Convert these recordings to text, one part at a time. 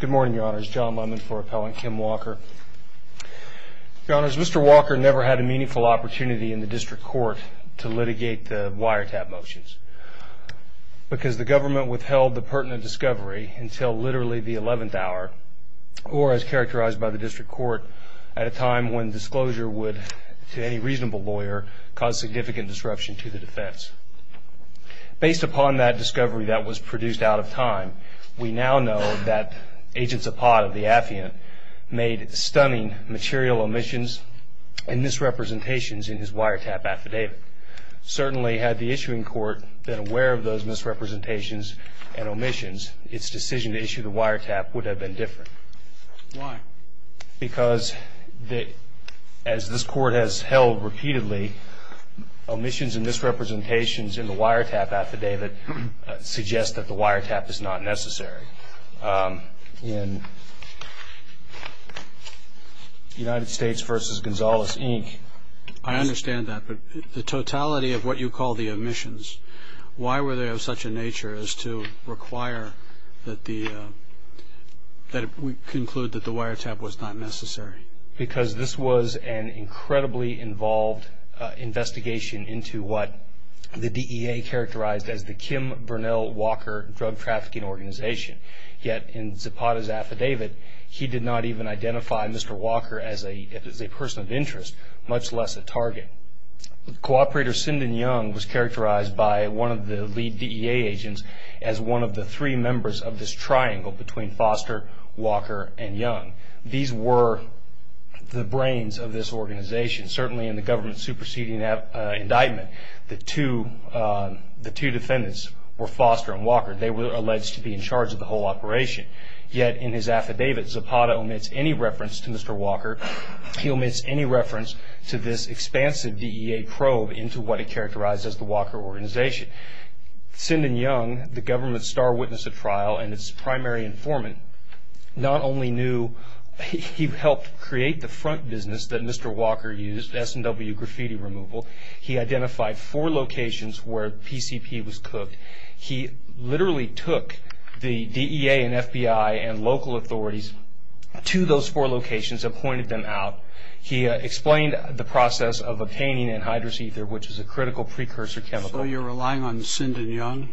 Good morning, your honors. John Lemon for Appellant Kim Walker. Your honors, Mr. Walker never had a meaningful opportunity in the district court to litigate the wiretap motions because the government withheld the pertinent discovery until literally the 11th hour or as characterized by the district court, at a time when disclosure would, to any reasonable lawyer, cause significant disruption to the defense. Based upon that discovery that was produced out of time, we now know that Agent Zapat of the AFI unit made stunning material omissions and misrepresentations in his wiretap affidavit. Certainly, had the issuing court been aware of those misrepresentations and omissions, its decision to issue the wiretap would have been different. Why? Because, as this court has held repeatedly, omissions and misrepresentations in the wiretap affidavit suggest that the wiretap is not necessary. In United States v. Gonzales, Inc. I understand that, but the totality of what you call the omissions, why were they of such a nature as to require that we conclude that the wiretap was not necessary? Because this was an incredibly involved investigation into what the DEA characterized as the Kim Burnell Walker Drug Trafficking Organization. Yet, in Zapat's affidavit, he did not even identify Mr. Walker as a person of interest, much less a target. Co-operator Sinden Young was characterized by one of the lead DEA agents as one of the three members of this triangle between Foster, Walker, and Young. These were the brains of this organization. Certainly, in the government-superseding indictment, the two defendants were Foster and Walker. They were alleged to be in charge of the whole operation. Yet, in his affidavit, Zapat omits any reference to Mr. Walker. He omits any reference to this expansive DEA probe into what he characterized as the Walker Organization. Sinden Young, the government's star witness at trial and its primary informant, not only knew he helped create the front business that Mr. Walker used, S&W graffiti removal, he identified four locations where PCP was cooked. He literally took the DEA and FBI and local authorities to those four locations and pointed them out. He explained the process of obtaining anhydrous ether, which is a critical precursor chemical. So you're relying on Sinden Young?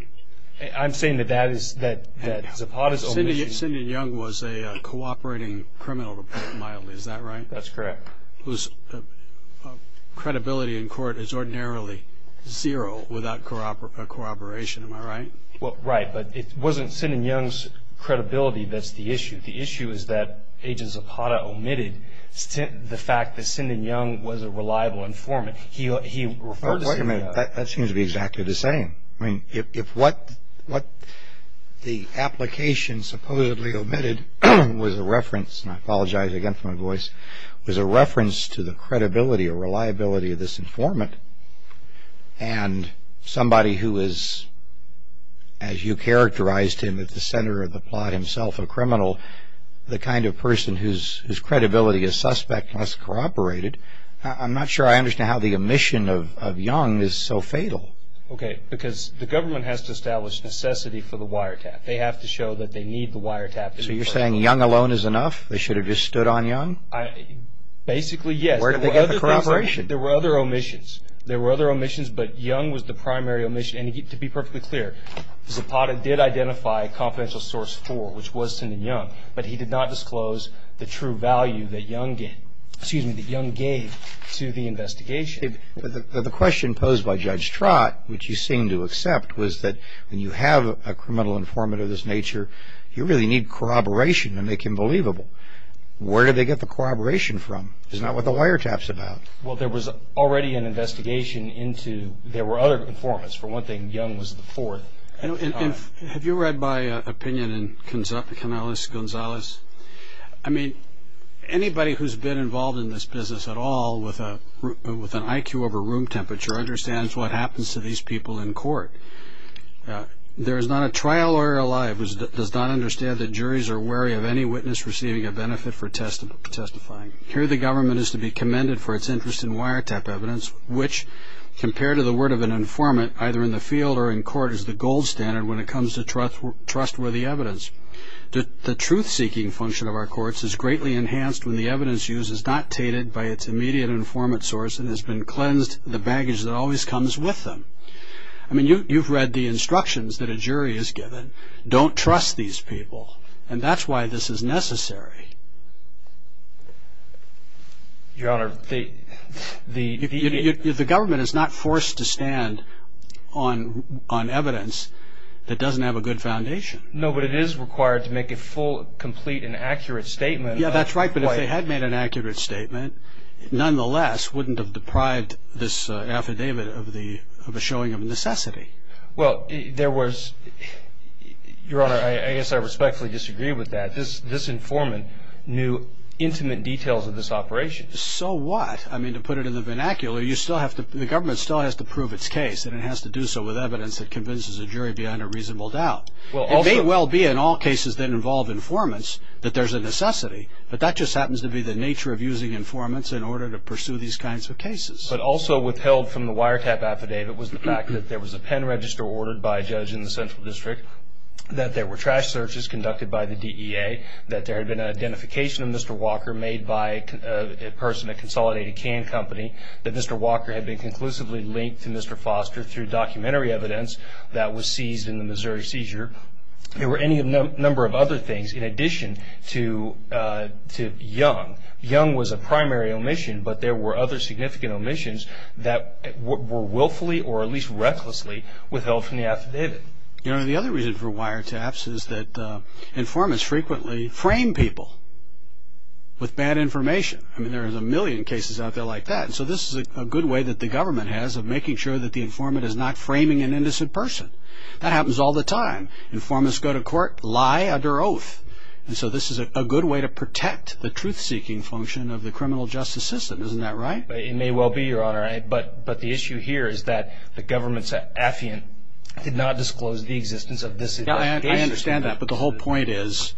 I'm saying that Zapat is omission. Sinden Young was a cooperating criminal, to put it mildly. Is that right? That's correct. Well, right, but it wasn't Sinden Young's credibility that's the issue. The issue is that Agent Zapat omitted the fact that Sinden Young was a reliable informant. He referred to Sinden Young. Wait a minute. That seems to be exactly the same. I mean, if what the application supposedly omitted was a reference, and I apologize again for my voice, was a reference to the credibility or reliability of this informant, and somebody who is, as you characterized him at the center of the plot himself, a criminal, the kind of person whose credibility is suspect unless cooperated, I'm not sure I understand how the omission of Young is so fatal. Okay, because the government has to establish necessity for the wiretap. They have to show that they need the wiretap. So you're saying Young alone is enough? They should have just stood on Young? Basically, yes. Where did they get the corroboration? There were other omissions. There were other omissions, but Young was the primary omission. And to be perfectly clear, Zapat did identify confidential source four, which was Sinden Young, but he did not disclose the true value that Young gave to the investigation. The question posed by Judge Trott, which you seem to accept, was that when you have a criminal informant of this nature, you really need corroboration to make him believable. Where did they get the corroboration from? It's not what the wiretap's about. Well, there was already an investigation into, there were other informants. For one thing, Young was the fourth. Have you read my opinion in Canales-Gonzalez? I mean, anybody who's been involved in this business at all with an IQ over room temperature understands what happens to these people in court. There is not a trial lawyer alive who does not understand that juries are wary of any witness receiving a benefit for testifying. Here the government is to be commended for its interest in wiretap evidence, which compared to the word of an informant, either in the field or in court, is the gold standard when it comes to trustworthy evidence. The truth-seeking function of our courts is greatly enhanced when the evidence used is not tainted by its immediate informant source and has been cleansed of the baggage that always comes with them. I mean, you've read the instructions that a jury is given. Don't trust these people, and that's why this is necessary. Your Honor, the... The government is not forced to stand on evidence that doesn't have a good foundation. No, but it is required to make a full, complete, and accurate statement. Yeah, that's right, but if they had made an accurate statement, nonetheless wouldn't have deprived this affidavit of a showing of necessity. Well, there was... Your Honor, I guess I respectfully disagree with that. This informant knew intimate details of this operation. So what? I mean, to put it in the vernacular, you still have to... The government still has to prove its case, and it has to do so with evidence that convinces a jury beyond a reasonable doubt. It may well be in all cases that involve informants that there's a necessity, but that just happens to be the nature of using informants in order to pursue these kinds of cases. But also withheld from the wiretap affidavit was the fact that there was a pen register ordered by a judge in the Central District, that there were trash searches conducted by the DEA, that there had been an identification of Mr. Walker made by a person at Consolidated Can Company, that Mr. Walker had been conclusively linked to Mr. Foster through documentary evidence that was seized in the Missouri seizure. There were any number of other things in addition to Young. Young was a primary omission, but there were other significant omissions that were willfully or at least recklessly withheld from the affidavit. Your Honor, the other reason for wiretaps is that informants frequently frame people with bad information. I mean, there are a million cases out there like that. So this is a good way that the government has of making sure that the informant is not framing an innocent person. That happens all the time. Informants go to court, lie under oath. And so this is a good way to protect the truth-seeking function of the criminal justice system. Isn't that right? It may well be, Your Honor. But the issue here is that the government's affiant did not disclose the existence of this information. I understand that, but the whole point is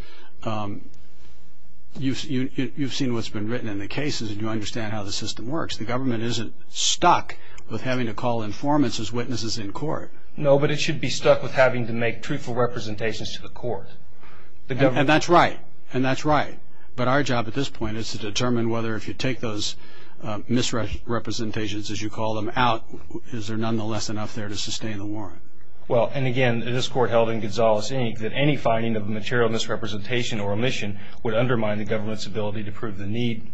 you've seen what's been written in the cases and you understand how the system works. The government isn't stuck with having to call informants as witnesses in court. No, but it should be stuck with having to make truthful representations to the court. And that's right. And that's right. But our job at this point is to determine whether if you take those misrepresentations, as you call them, out, is there nonetheless enough there to sustain the warrant. Well, and again, this Court held in Gonzales, Inc. that any finding of a material misrepresentation or omission would undermine the government's ability to prove the need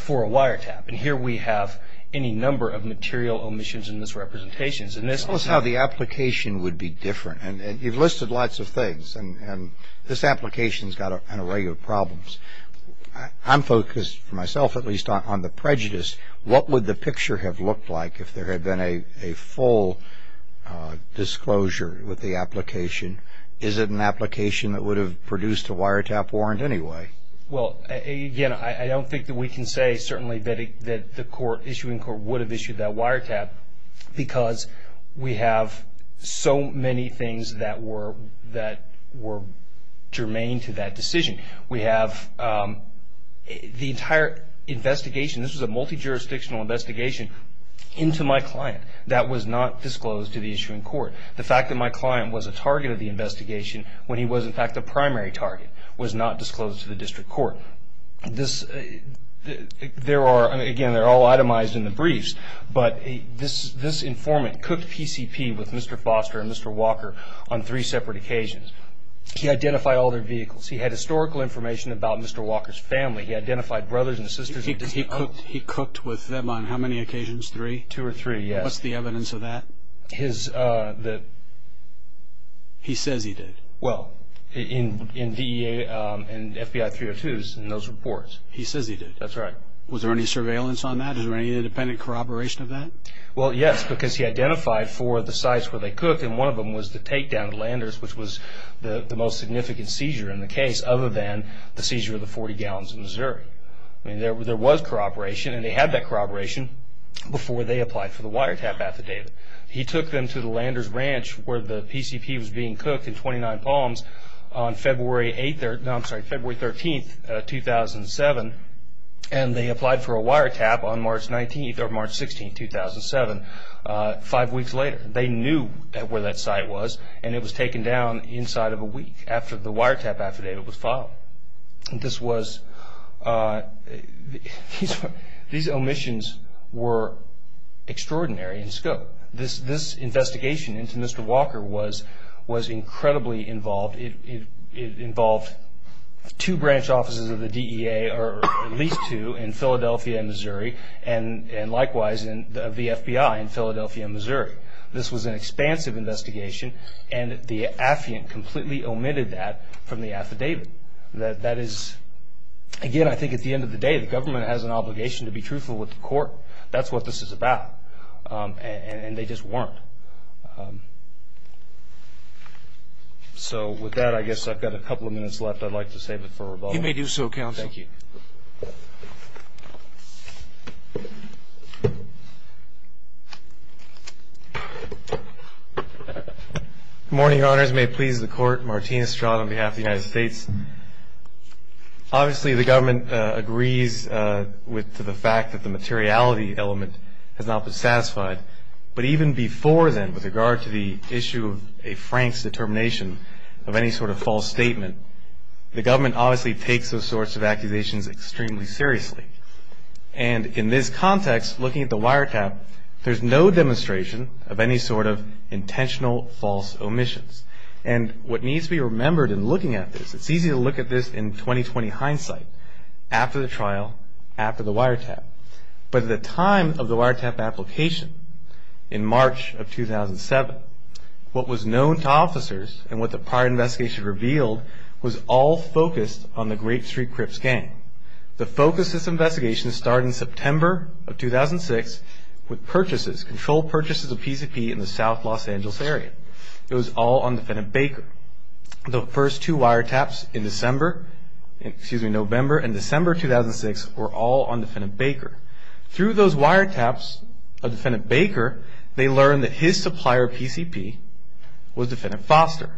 for a wiretap. And here we have any number of material omissions and misrepresentations. Tell us how the application would be different. And you've listed lots of things, and this application's got an array of problems. I'm focused, for myself at least, on the prejudice. What would the picture have looked like if there had been a full disclosure with the application? Is it an application that would have produced a wiretap warrant anyway? Well, again, I don't think that we can say, certainly, that the issuing court would have issued that wiretap because we have so many things that were germane to that decision. We have the entire investigation, this was a multi-jurisdictional investigation, into my client that was not disclosed to the issuing court. The fact that my client was a target of the investigation when he was, in fact, the primary target was not disclosed to the district court. Again, they're all itemized in the briefs, but this informant cooked PCP with Mr. Foster and Mr. Walker on three separate occasions. He identified all their vehicles. He had historical information about Mr. Walker's family. He identified brothers and sisters. He cooked with them on how many occasions, three? Two or three, yes. What's the evidence of that? He says he did. Well, in DEA and FBI 302s and those reports. He says he did. That's right. Was there any surveillance on that? Is there any independent corroboration of that? Well, yes, because he identified four of the sites where they cook, and one of them was the takedown at Landers, which was the most significant seizure in the case, other than the seizure of the 40 gallons in Missouri. I mean, there was corroboration, and they had that corroboration before they applied for the wiretap affidavit. He took them to the Landers Ranch where the PCP was being cooked in 29 Palms on February 8th. No, I'm sorry, February 13th, 2007, and they applied for a wiretap on March 19th or March 16th, 2007, five weeks later. They knew where that site was, and it was taken down inside of a week after the wiretap affidavit was filed. These omissions were extraordinary in scope. This investigation into Mr. Walker was incredibly involved. It involved two branch offices of the DEA, or at least two, in Philadelphia and Missouri, and likewise the FBI in Philadelphia and Missouri. This was an expansive investigation, and the affiant completely omitted that from the affidavit. That is, again, I think at the end of the day, the government has an obligation to be truthful with the court. That's what this is about, and they just weren't. So with that, I guess I've got a couple of minutes left. I'd like to save it for rebuttal. You may do so, counsel. Thank you. Good morning, Your Honors. Your Honors, may it please the Court, Martin Estrada on behalf of the United States. Obviously, the government agrees with the fact that the materiality element has not been satisfied, but even before then, with regard to the issue of a Frank's determination of any sort of false statement, the government obviously takes those sorts of accusations extremely seriously, and in this context, looking at the wiretap, there's no demonstration of any sort of intentional false omissions, and what needs to be remembered in looking at this, it's easy to look at this in 20-20 hindsight, after the trial, after the wiretap, but at the time of the wiretap application in March of 2007, what was known to officers and what the prior investigation revealed was all focused on the Grape Street Crips gang. The focus of this investigation started in September of 2006 with purchases, controlled purchases of PCP in the South Los Angeles area. It was all on Defendant Baker. The first two wiretaps in November and December 2006 were all on Defendant Baker. Through those wiretaps of Defendant Baker, they learned that his supplier, PCP, was Defendant Foster.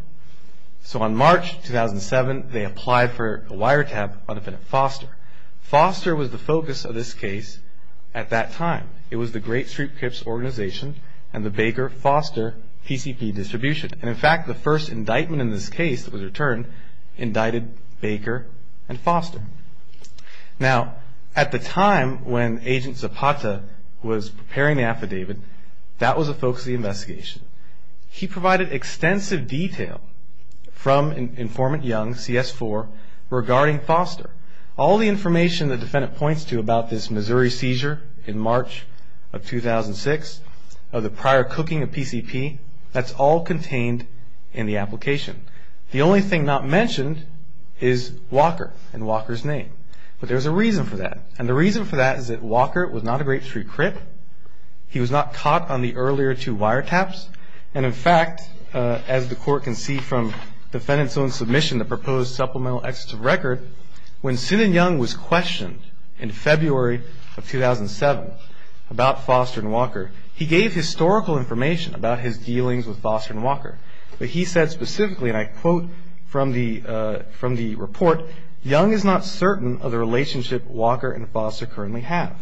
So on March 2007, they applied for a wiretap on Defendant Foster. Foster was the focus of this case at that time. It was the Grape Street Crips organization and the Baker-Foster PCP distribution. And in fact, the first indictment in this case that was returned indicted Baker and Foster. Now, at the time when Agent Zapata was preparing the affidavit, that was the focus of the investigation. He provided extensive detail from Informant Young, CS4, regarding Foster. All the information the Defendant points to about this Missouri seizure in March of 2006, of the prior cooking of PCP, that's all contained in the application. The only thing not mentioned is Walker and Walker's name. But there's a reason for that. And the reason for that is that Walker was not a Grape Street Crip. He was not caught on the earlier two wiretaps. And in fact, as the Court can see from Defendant's own submission, the proposed supplemental executive record, when Synan Young was questioned in February of 2007 about Foster and Walker, he gave historical information about his dealings with Foster and Walker. But he said specifically, and I quote from the report, Young is not certain of the relationship Walker and Foster currently have.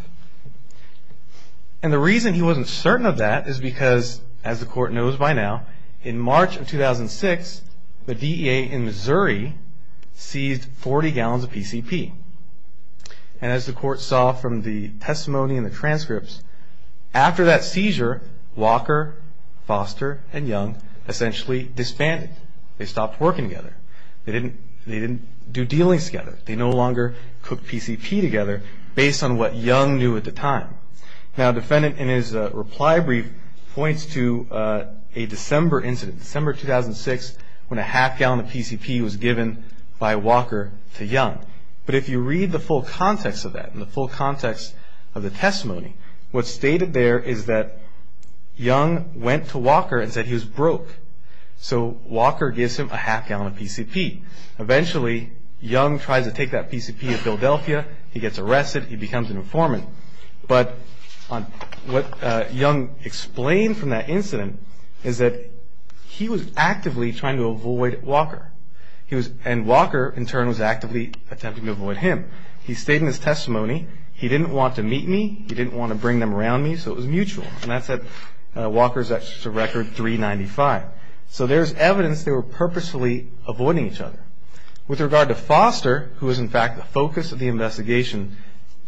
And the reason he wasn't certain of that is because, as the Court knows by now, in March of 2006, the DEA in Missouri seized 40 gallons of PCP. And as the Court saw from the testimony and the transcripts, after that seizure, Walker, Foster, and Young essentially disbanded. They stopped working together. They didn't do dealings together. They no longer cooked PCP together based on what Young knew at the time. Now, Defendant, in his reply brief, points to a December incident, December 2006, when a half gallon of PCP was given by Walker to Young. But if you read the full context of that and the full context of the testimony, what's stated there is that Young went to Walker and said he was broke. So Walker gives him a half gallon of PCP. Eventually, Young tries to take that PCP to Philadelphia. He gets arrested. He becomes an informant. But what Young explained from that incident is that he was actively trying to avoid Walker. And Walker, in turn, was actively attempting to avoid him. He stated in his testimony, he didn't want to meet me. He didn't want to bring them around me. So it was mutual. And that's at Walker's record, 395. So there's evidence they were purposefully avoiding each other. With regard to Foster, who was, in fact, the focus of the investigation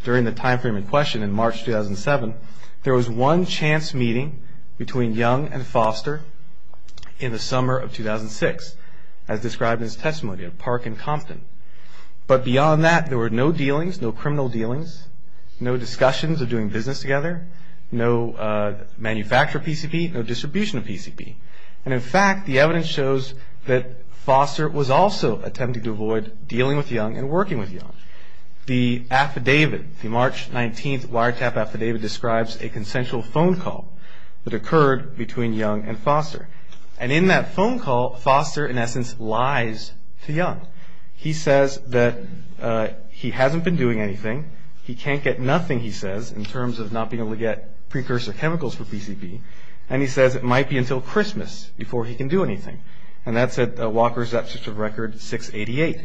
during the time frame in question in March 2007, there was one chance meeting between Young and Foster in the summer of 2006, as described in his testimony at Park and Compton. But beyond that, there were no dealings, no criminal dealings, no discussions of doing business together, no manufacture of PCP, no distribution of PCP. And, in fact, the evidence shows that Foster was also attempting to avoid dealing with Young and working with Young. The affidavit, the March 19th wiretap affidavit, describes a consensual phone call that occurred between Young and Foster. And in that phone call, Foster, in essence, lies to Young. He says that he hasn't been doing anything. He can't get nothing, he says, in terms of not being able to get precursor chemicals for PCP. And he says it might be until Christmas before he can do anything. And that's at Walker's absence of record 688.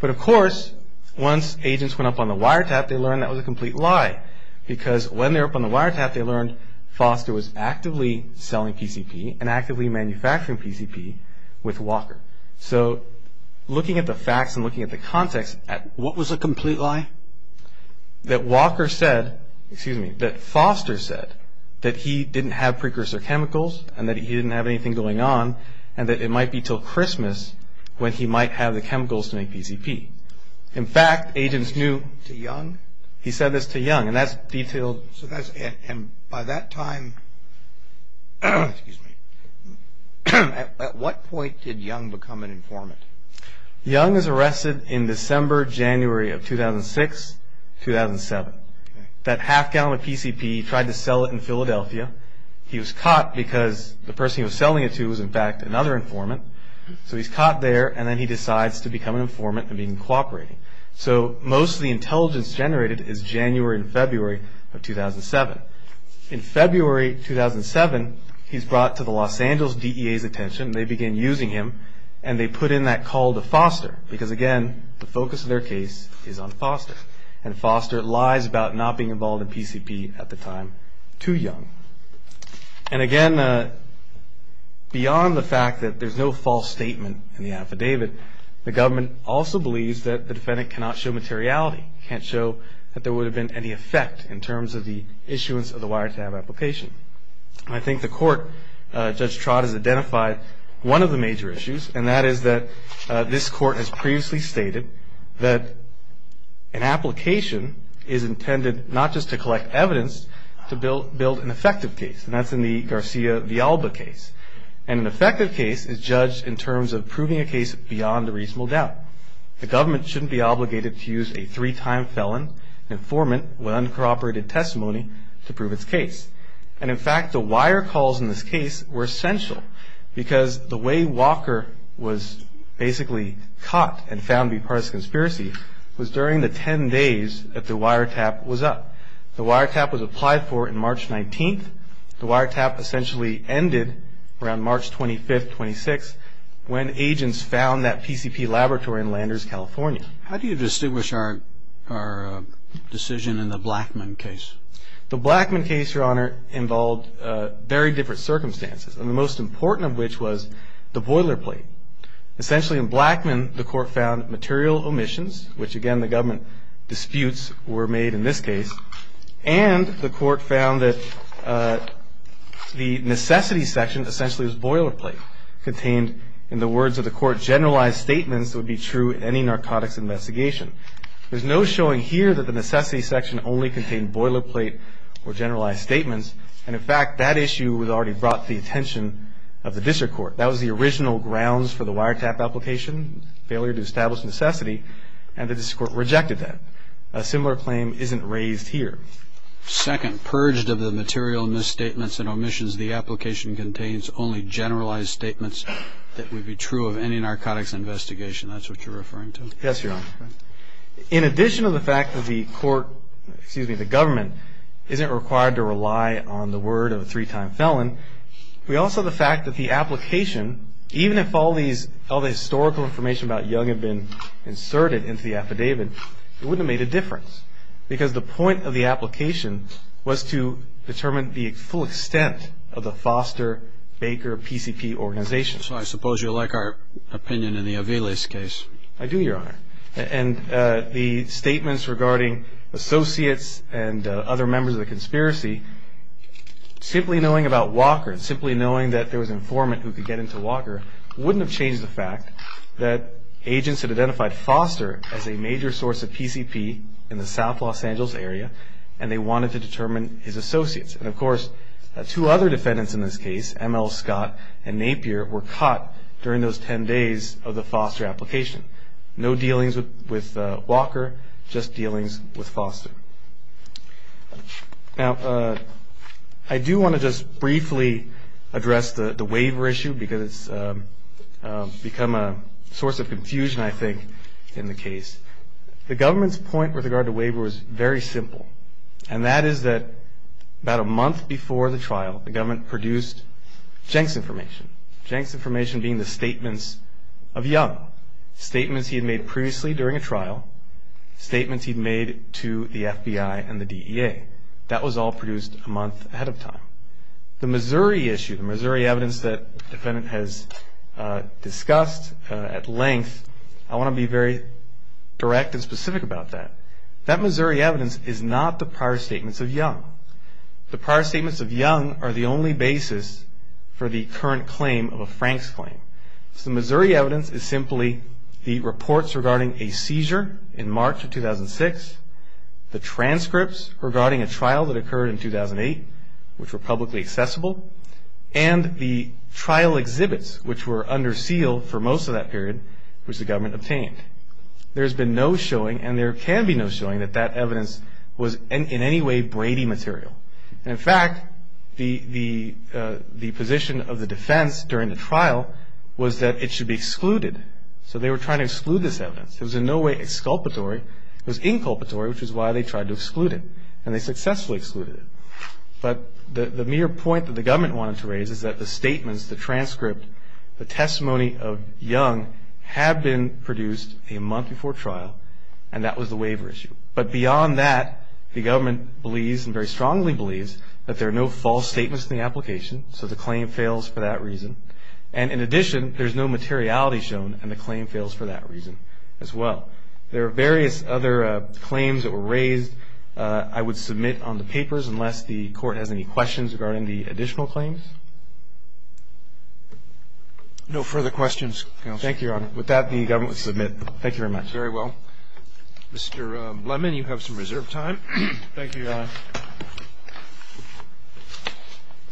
But, of course, once agents went up on the wiretap, they learned that was a complete lie because when they were up on the wiretap, they learned Foster was actively selling PCP and actively manufacturing PCP with Walker. So looking at the facts and looking at the context, what was a complete lie? That Walker said, excuse me, that Foster said that he didn't have precursor chemicals and that he didn't have anything going on and that it might be until Christmas when he might have the chemicals to make PCP. In fact, agents knew. To Young? He said this to Young, and that's detailed. And by that time, at what point did Young become an informant? Young is arrested in December, January of 2006, 2007. That half gallon of PCP, he tried to sell it in Philadelphia. He was caught because the person he was selling it to was, in fact, another informant. So he's caught there, and then he decides to become an informant and begin cooperating. So most of the intelligence generated is January and February of 2007. In February 2007, he's brought to the Los Angeles DEA's attention. They begin using him, and they put in that call to Foster because, again, the focus of their case is on Foster. And Foster lies about not being involved in PCP at the time to Young. And, again, beyond the fact that there's no false statement in the affidavit, the government also believes that the defendant cannot show materiality, can't show that there would have been any effect in terms of the issuance of the wiretap application. I think the court, Judge Trott, has identified one of the major issues, and that is that this court has previously stated that an application is intended not just to collect evidence, to build an effective case. And that's in the Garcia-Villalba case. And an effective case is judged in terms of proving a case beyond a reasonable doubt. The government shouldn't be obligated to use a three-time felon, an informant with uncorroborated testimony to prove its case. And, in fact, the wire calls in this case were essential because the way Walker was basically caught and found to be part of this conspiracy was during the 10 days that the wiretap was up. The wiretap was applied for on March 19th. The wiretap essentially ended around March 25th, 26th, when agents found that PCP laboratory in Landers, California. How do you distinguish our decision in the Blackman case? The Blackman case, Your Honor, involved very different circumstances, and the most important of which was the boilerplate. Essentially, in Blackman, the court found material omissions, which, again, the government disputes were made in this case. And the court found that the necessity section essentially was boilerplate, contained in the words of the court, or generalized statements that would be true in any narcotics investigation. There's no showing here that the necessity section only contained boilerplate or generalized statements. And, in fact, that issue was already brought to the attention of the district court. That was the original grounds for the wiretap application, failure to establish necessity, and the district court rejected that. A similar claim isn't raised here. Second, purged of the material misstatements and omissions, the application contains only generalized statements that would be true of any narcotics investigation. That's what you're referring to? Yes, Your Honor. In addition to the fact that the court, excuse me, the government, isn't required to rely on the word of a three-time felon, we also have the fact that the application, even if all the historical information about Young had been inserted into the affidavit, it wouldn't have made a difference, because the point of the application was to determine the full extent of the Foster Baker PCP organization. So I suppose you like our opinion in the Aviles case. I do, Your Honor. And the statements regarding associates and other members of the conspiracy, simply knowing about Walker, simply knowing that there was an informant who could get into Walker, wouldn't have changed the fact that agents had identified Foster as a major source of PCP in the South Los Angeles area, and they wanted to determine his associates. And, of course, two other defendants in this case, M.L. Scott and Napier, were caught during those ten days of the Foster application. No dealings with Walker, just dealings with Foster. Now, I do want to just briefly address the waiver issue, because it's become a source of confusion, I think, in the case. The government's point with regard to waiver was very simple, and that is that about a month before the trial, the government produced Jenks information, Jenks information being the statements of Young, statements he had made previously during a trial, statements he'd made to the FBI and the DEA. That was all produced a month ahead of time. The Missouri issue, the Missouri evidence that the defendant has discussed at length, I want to be very direct and specific about that. That Missouri evidence is not the prior statements of Young. The prior statements of Young are the only basis for the current claim of a Franks claim. So the Missouri evidence is simply the reports regarding a seizure in March of 2006, the transcripts regarding a trial that occurred in 2008, which were publicly accessible, and the trial exhibits, which were under seal for most of that period, which the government obtained. There has been no showing, and there can be no showing, that that evidence was in any way Brady material. And, in fact, the position of the defense during the trial was that it should be excluded. So they were trying to exclude this evidence. It was in no way exculpatory. It was inculpatory, which is why they tried to exclude it, and they successfully excluded it. But the mere point that the government wanted to raise is that the statements, the transcript, the testimony of Young had been produced a month before trial, and that was the waiver issue. But beyond that, the government believes, and very strongly believes, that there are no false statements in the application, so the claim fails for that reason. And, in addition, there's no materiality shown, and the claim fails for that reason as well. There are various other claims that were raised I would submit on the papers, unless the court has any questions regarding the additional claims. No further questions, Counsel. Thank you, Your Honor. With that, the government will submit. Thank you very much. Very well. Mr. Lemon, you have some reserved time. Thank you, Your Honor.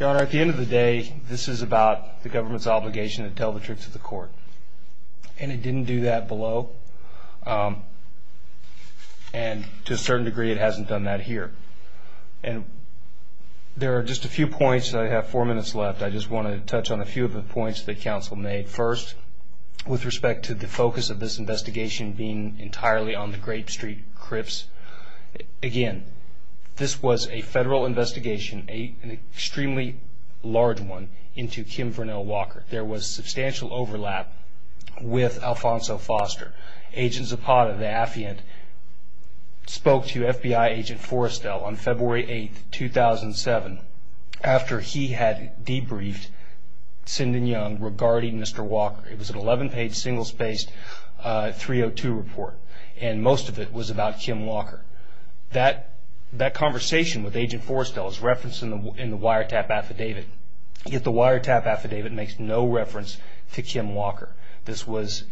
Your Honor, at the end of the day, this is about the government's obligation to tell the truth to the court. And it didn't do that below, and to a certain degree it hasn't done that here. And there are just a few points. I have four minutes left. I just want to touch on a few of the points that counsel made. First, with respect to the focus of this investigation being entirely on the Grape Street Crips, again, this was a federal investigation, an extremely large one, into Kim Vernell Walker. There was substantial overlap with Alfonso Foster. Agent Zapata, the affiant, spoke to FBI Agent Forrestel on February 8, 2007, after he had debriefed Sinden Young regarding Mr. Walker. It was an 11-page, single-spaced 302 report, and most of it was about Kim Walker. That conversation with Agent Forrestel is referenced in the wiretap affidavit. Yet the wiretap affidavit makes no reference to Kim Walker. This was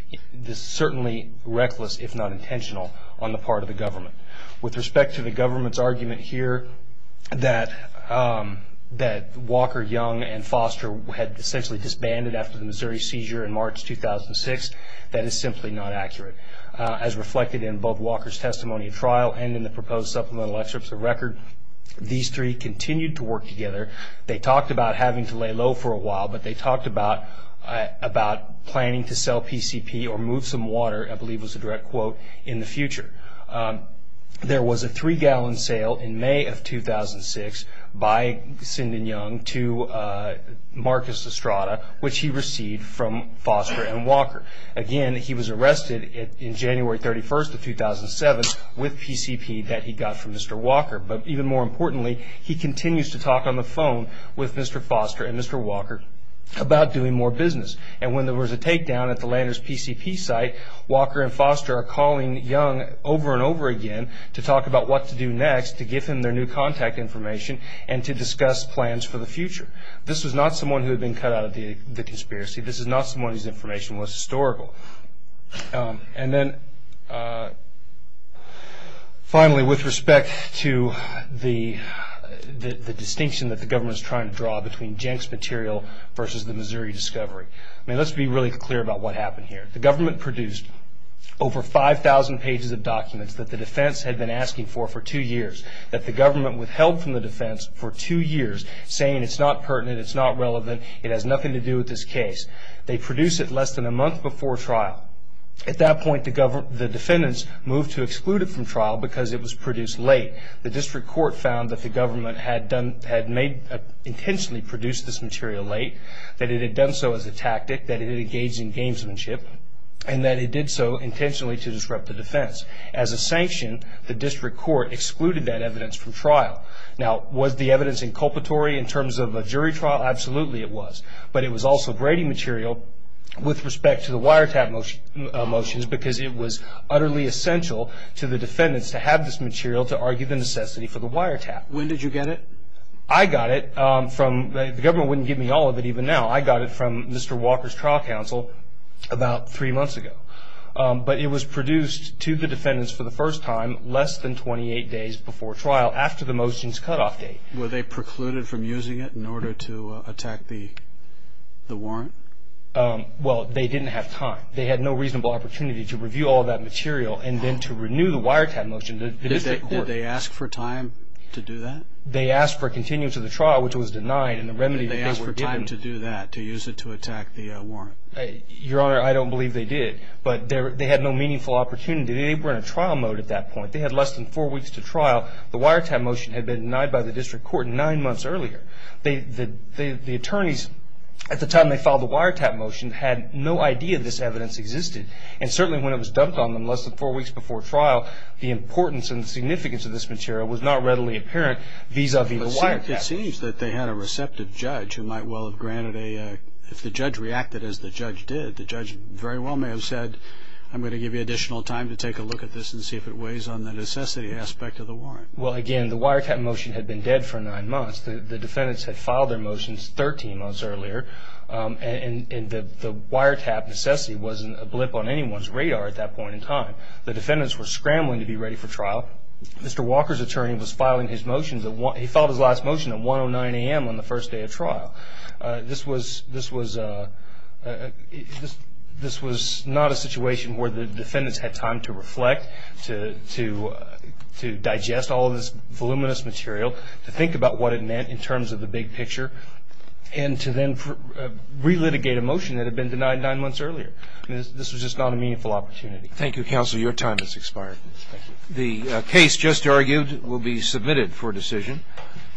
certainly reckless, if not intentional, on the part of the government. With respect to the government's argument here that Walker, Young, and Foster had essentially disbanded after the Missouri seizure in March 2006, that is simply not accurate. As reflected in both Walker's testimony at trial and in the proposed supplemental excerpts of record, these three continued to work together. They talked about having to lay low for a while, but they talked about planning to sell PCP or move some water, I believe was the direct quote, in the future. There was a three-gallon sale in May of 2006 by Sinden Young to Marcus Estrada, which he received from Foster and Walker. Again, he was arrested in January 31, 2007, with PCP that he got from Mr. Walker. Even more importantly, he continues to talk on the phone with Mr. Foster and Mr. Walker about doing more business. When there was a takedown at the Landers PCP site, Walker and Foster are calling Young over and over again to talk about what to do next to give him their new contact information and to discuss plans for the future. This was not someone who had been cut out of the conspiracy. This is not someone whose information was historical. Finally, with respect to the distinction that the government is trying to draw between Jenks material versus the Missouri discovery, let's be really clear about what happened here. The government produced over 5,000 pages of documents that the defense had been asking for for two years, that the government withheld from the defense for two years, saying it's not pertinent, it's not relevant, it has nothing to do with this case. They produce it less than a month before trial. At that point, the defendants moved to exclude it from trial because it was produced late. The district court found that the government had intentionally produced this material late, that it had done so as a tactic, that it had engaged in gamesmanship, and that it did so intentionally to disrupt the defense. As a sanction, the district court excluded that evidence from trial. Now, was the evidence inculpatory in terms of a jury trial? Absolutely it was. But it was also Brady material with respect to the wiretap motions because it was utterly essential to the defendants to have this material to argue the necessity for the wiretap. When did you get it? I got it from, the government wouldn't give me all of it even now, I got it from Mr. Walker's trial counsel about three months ago. But it was produced to the defendants for the first time less than 28 days before trial, after the motion's cutoff date. Were they precluded from using it in order to attack the warrant? Well, they didn't have time. They had no reasonable opportunity to review all of that material and then to renew the wiretap motion to the district court. Did they ask for time to do that? They asked for continuity to the trial, which was denied, and the remedy that they were given. Did they ask for time to do that, to use it to attack the warrant? Your Honor, I don't believe they did. But they had no meaningful opportunity. They were in a trial mode at that point. They had less than four weeks to trial. The wiretap motion had been denied by the district court nine months earlier. The attorneys, at the time they filed the wiretap motion, had no idea this evidence existed. And certainly when it was dumped on them less than four weeks before trial, the importance and significance of this material was not readily apparent vis-a-vis the wiretap motion. It seems that they had a receptive judge who might well have granted a, if the judge reacted as the judge did, the judge very well may have said, I'm going to give you additional time to take a look at this and see if it weighs on the necessity aspect of the warrant. Well, again, the wiretap motion had been dead for nine months. The defendants had filed their motions 13 months earlier, and the wiretap necessity wasn't a blip on anyone's radar at that point in time. The defendants were scrambling to be ready for trial. Mr. Walker's attorney was filing his motions. He filed his last motion at 109 a.m. on the first day of trial. This was not a situation where the defendants had time to reflect, to digest all of this voluminous material, to think about what it meant in terms of the big picture, and to then relitigate a motion that had been denied nine months earlier. This was just not a meaningful opportunity. Thank you, counsel. Your time has expired. The case just argued will be submitted for decision.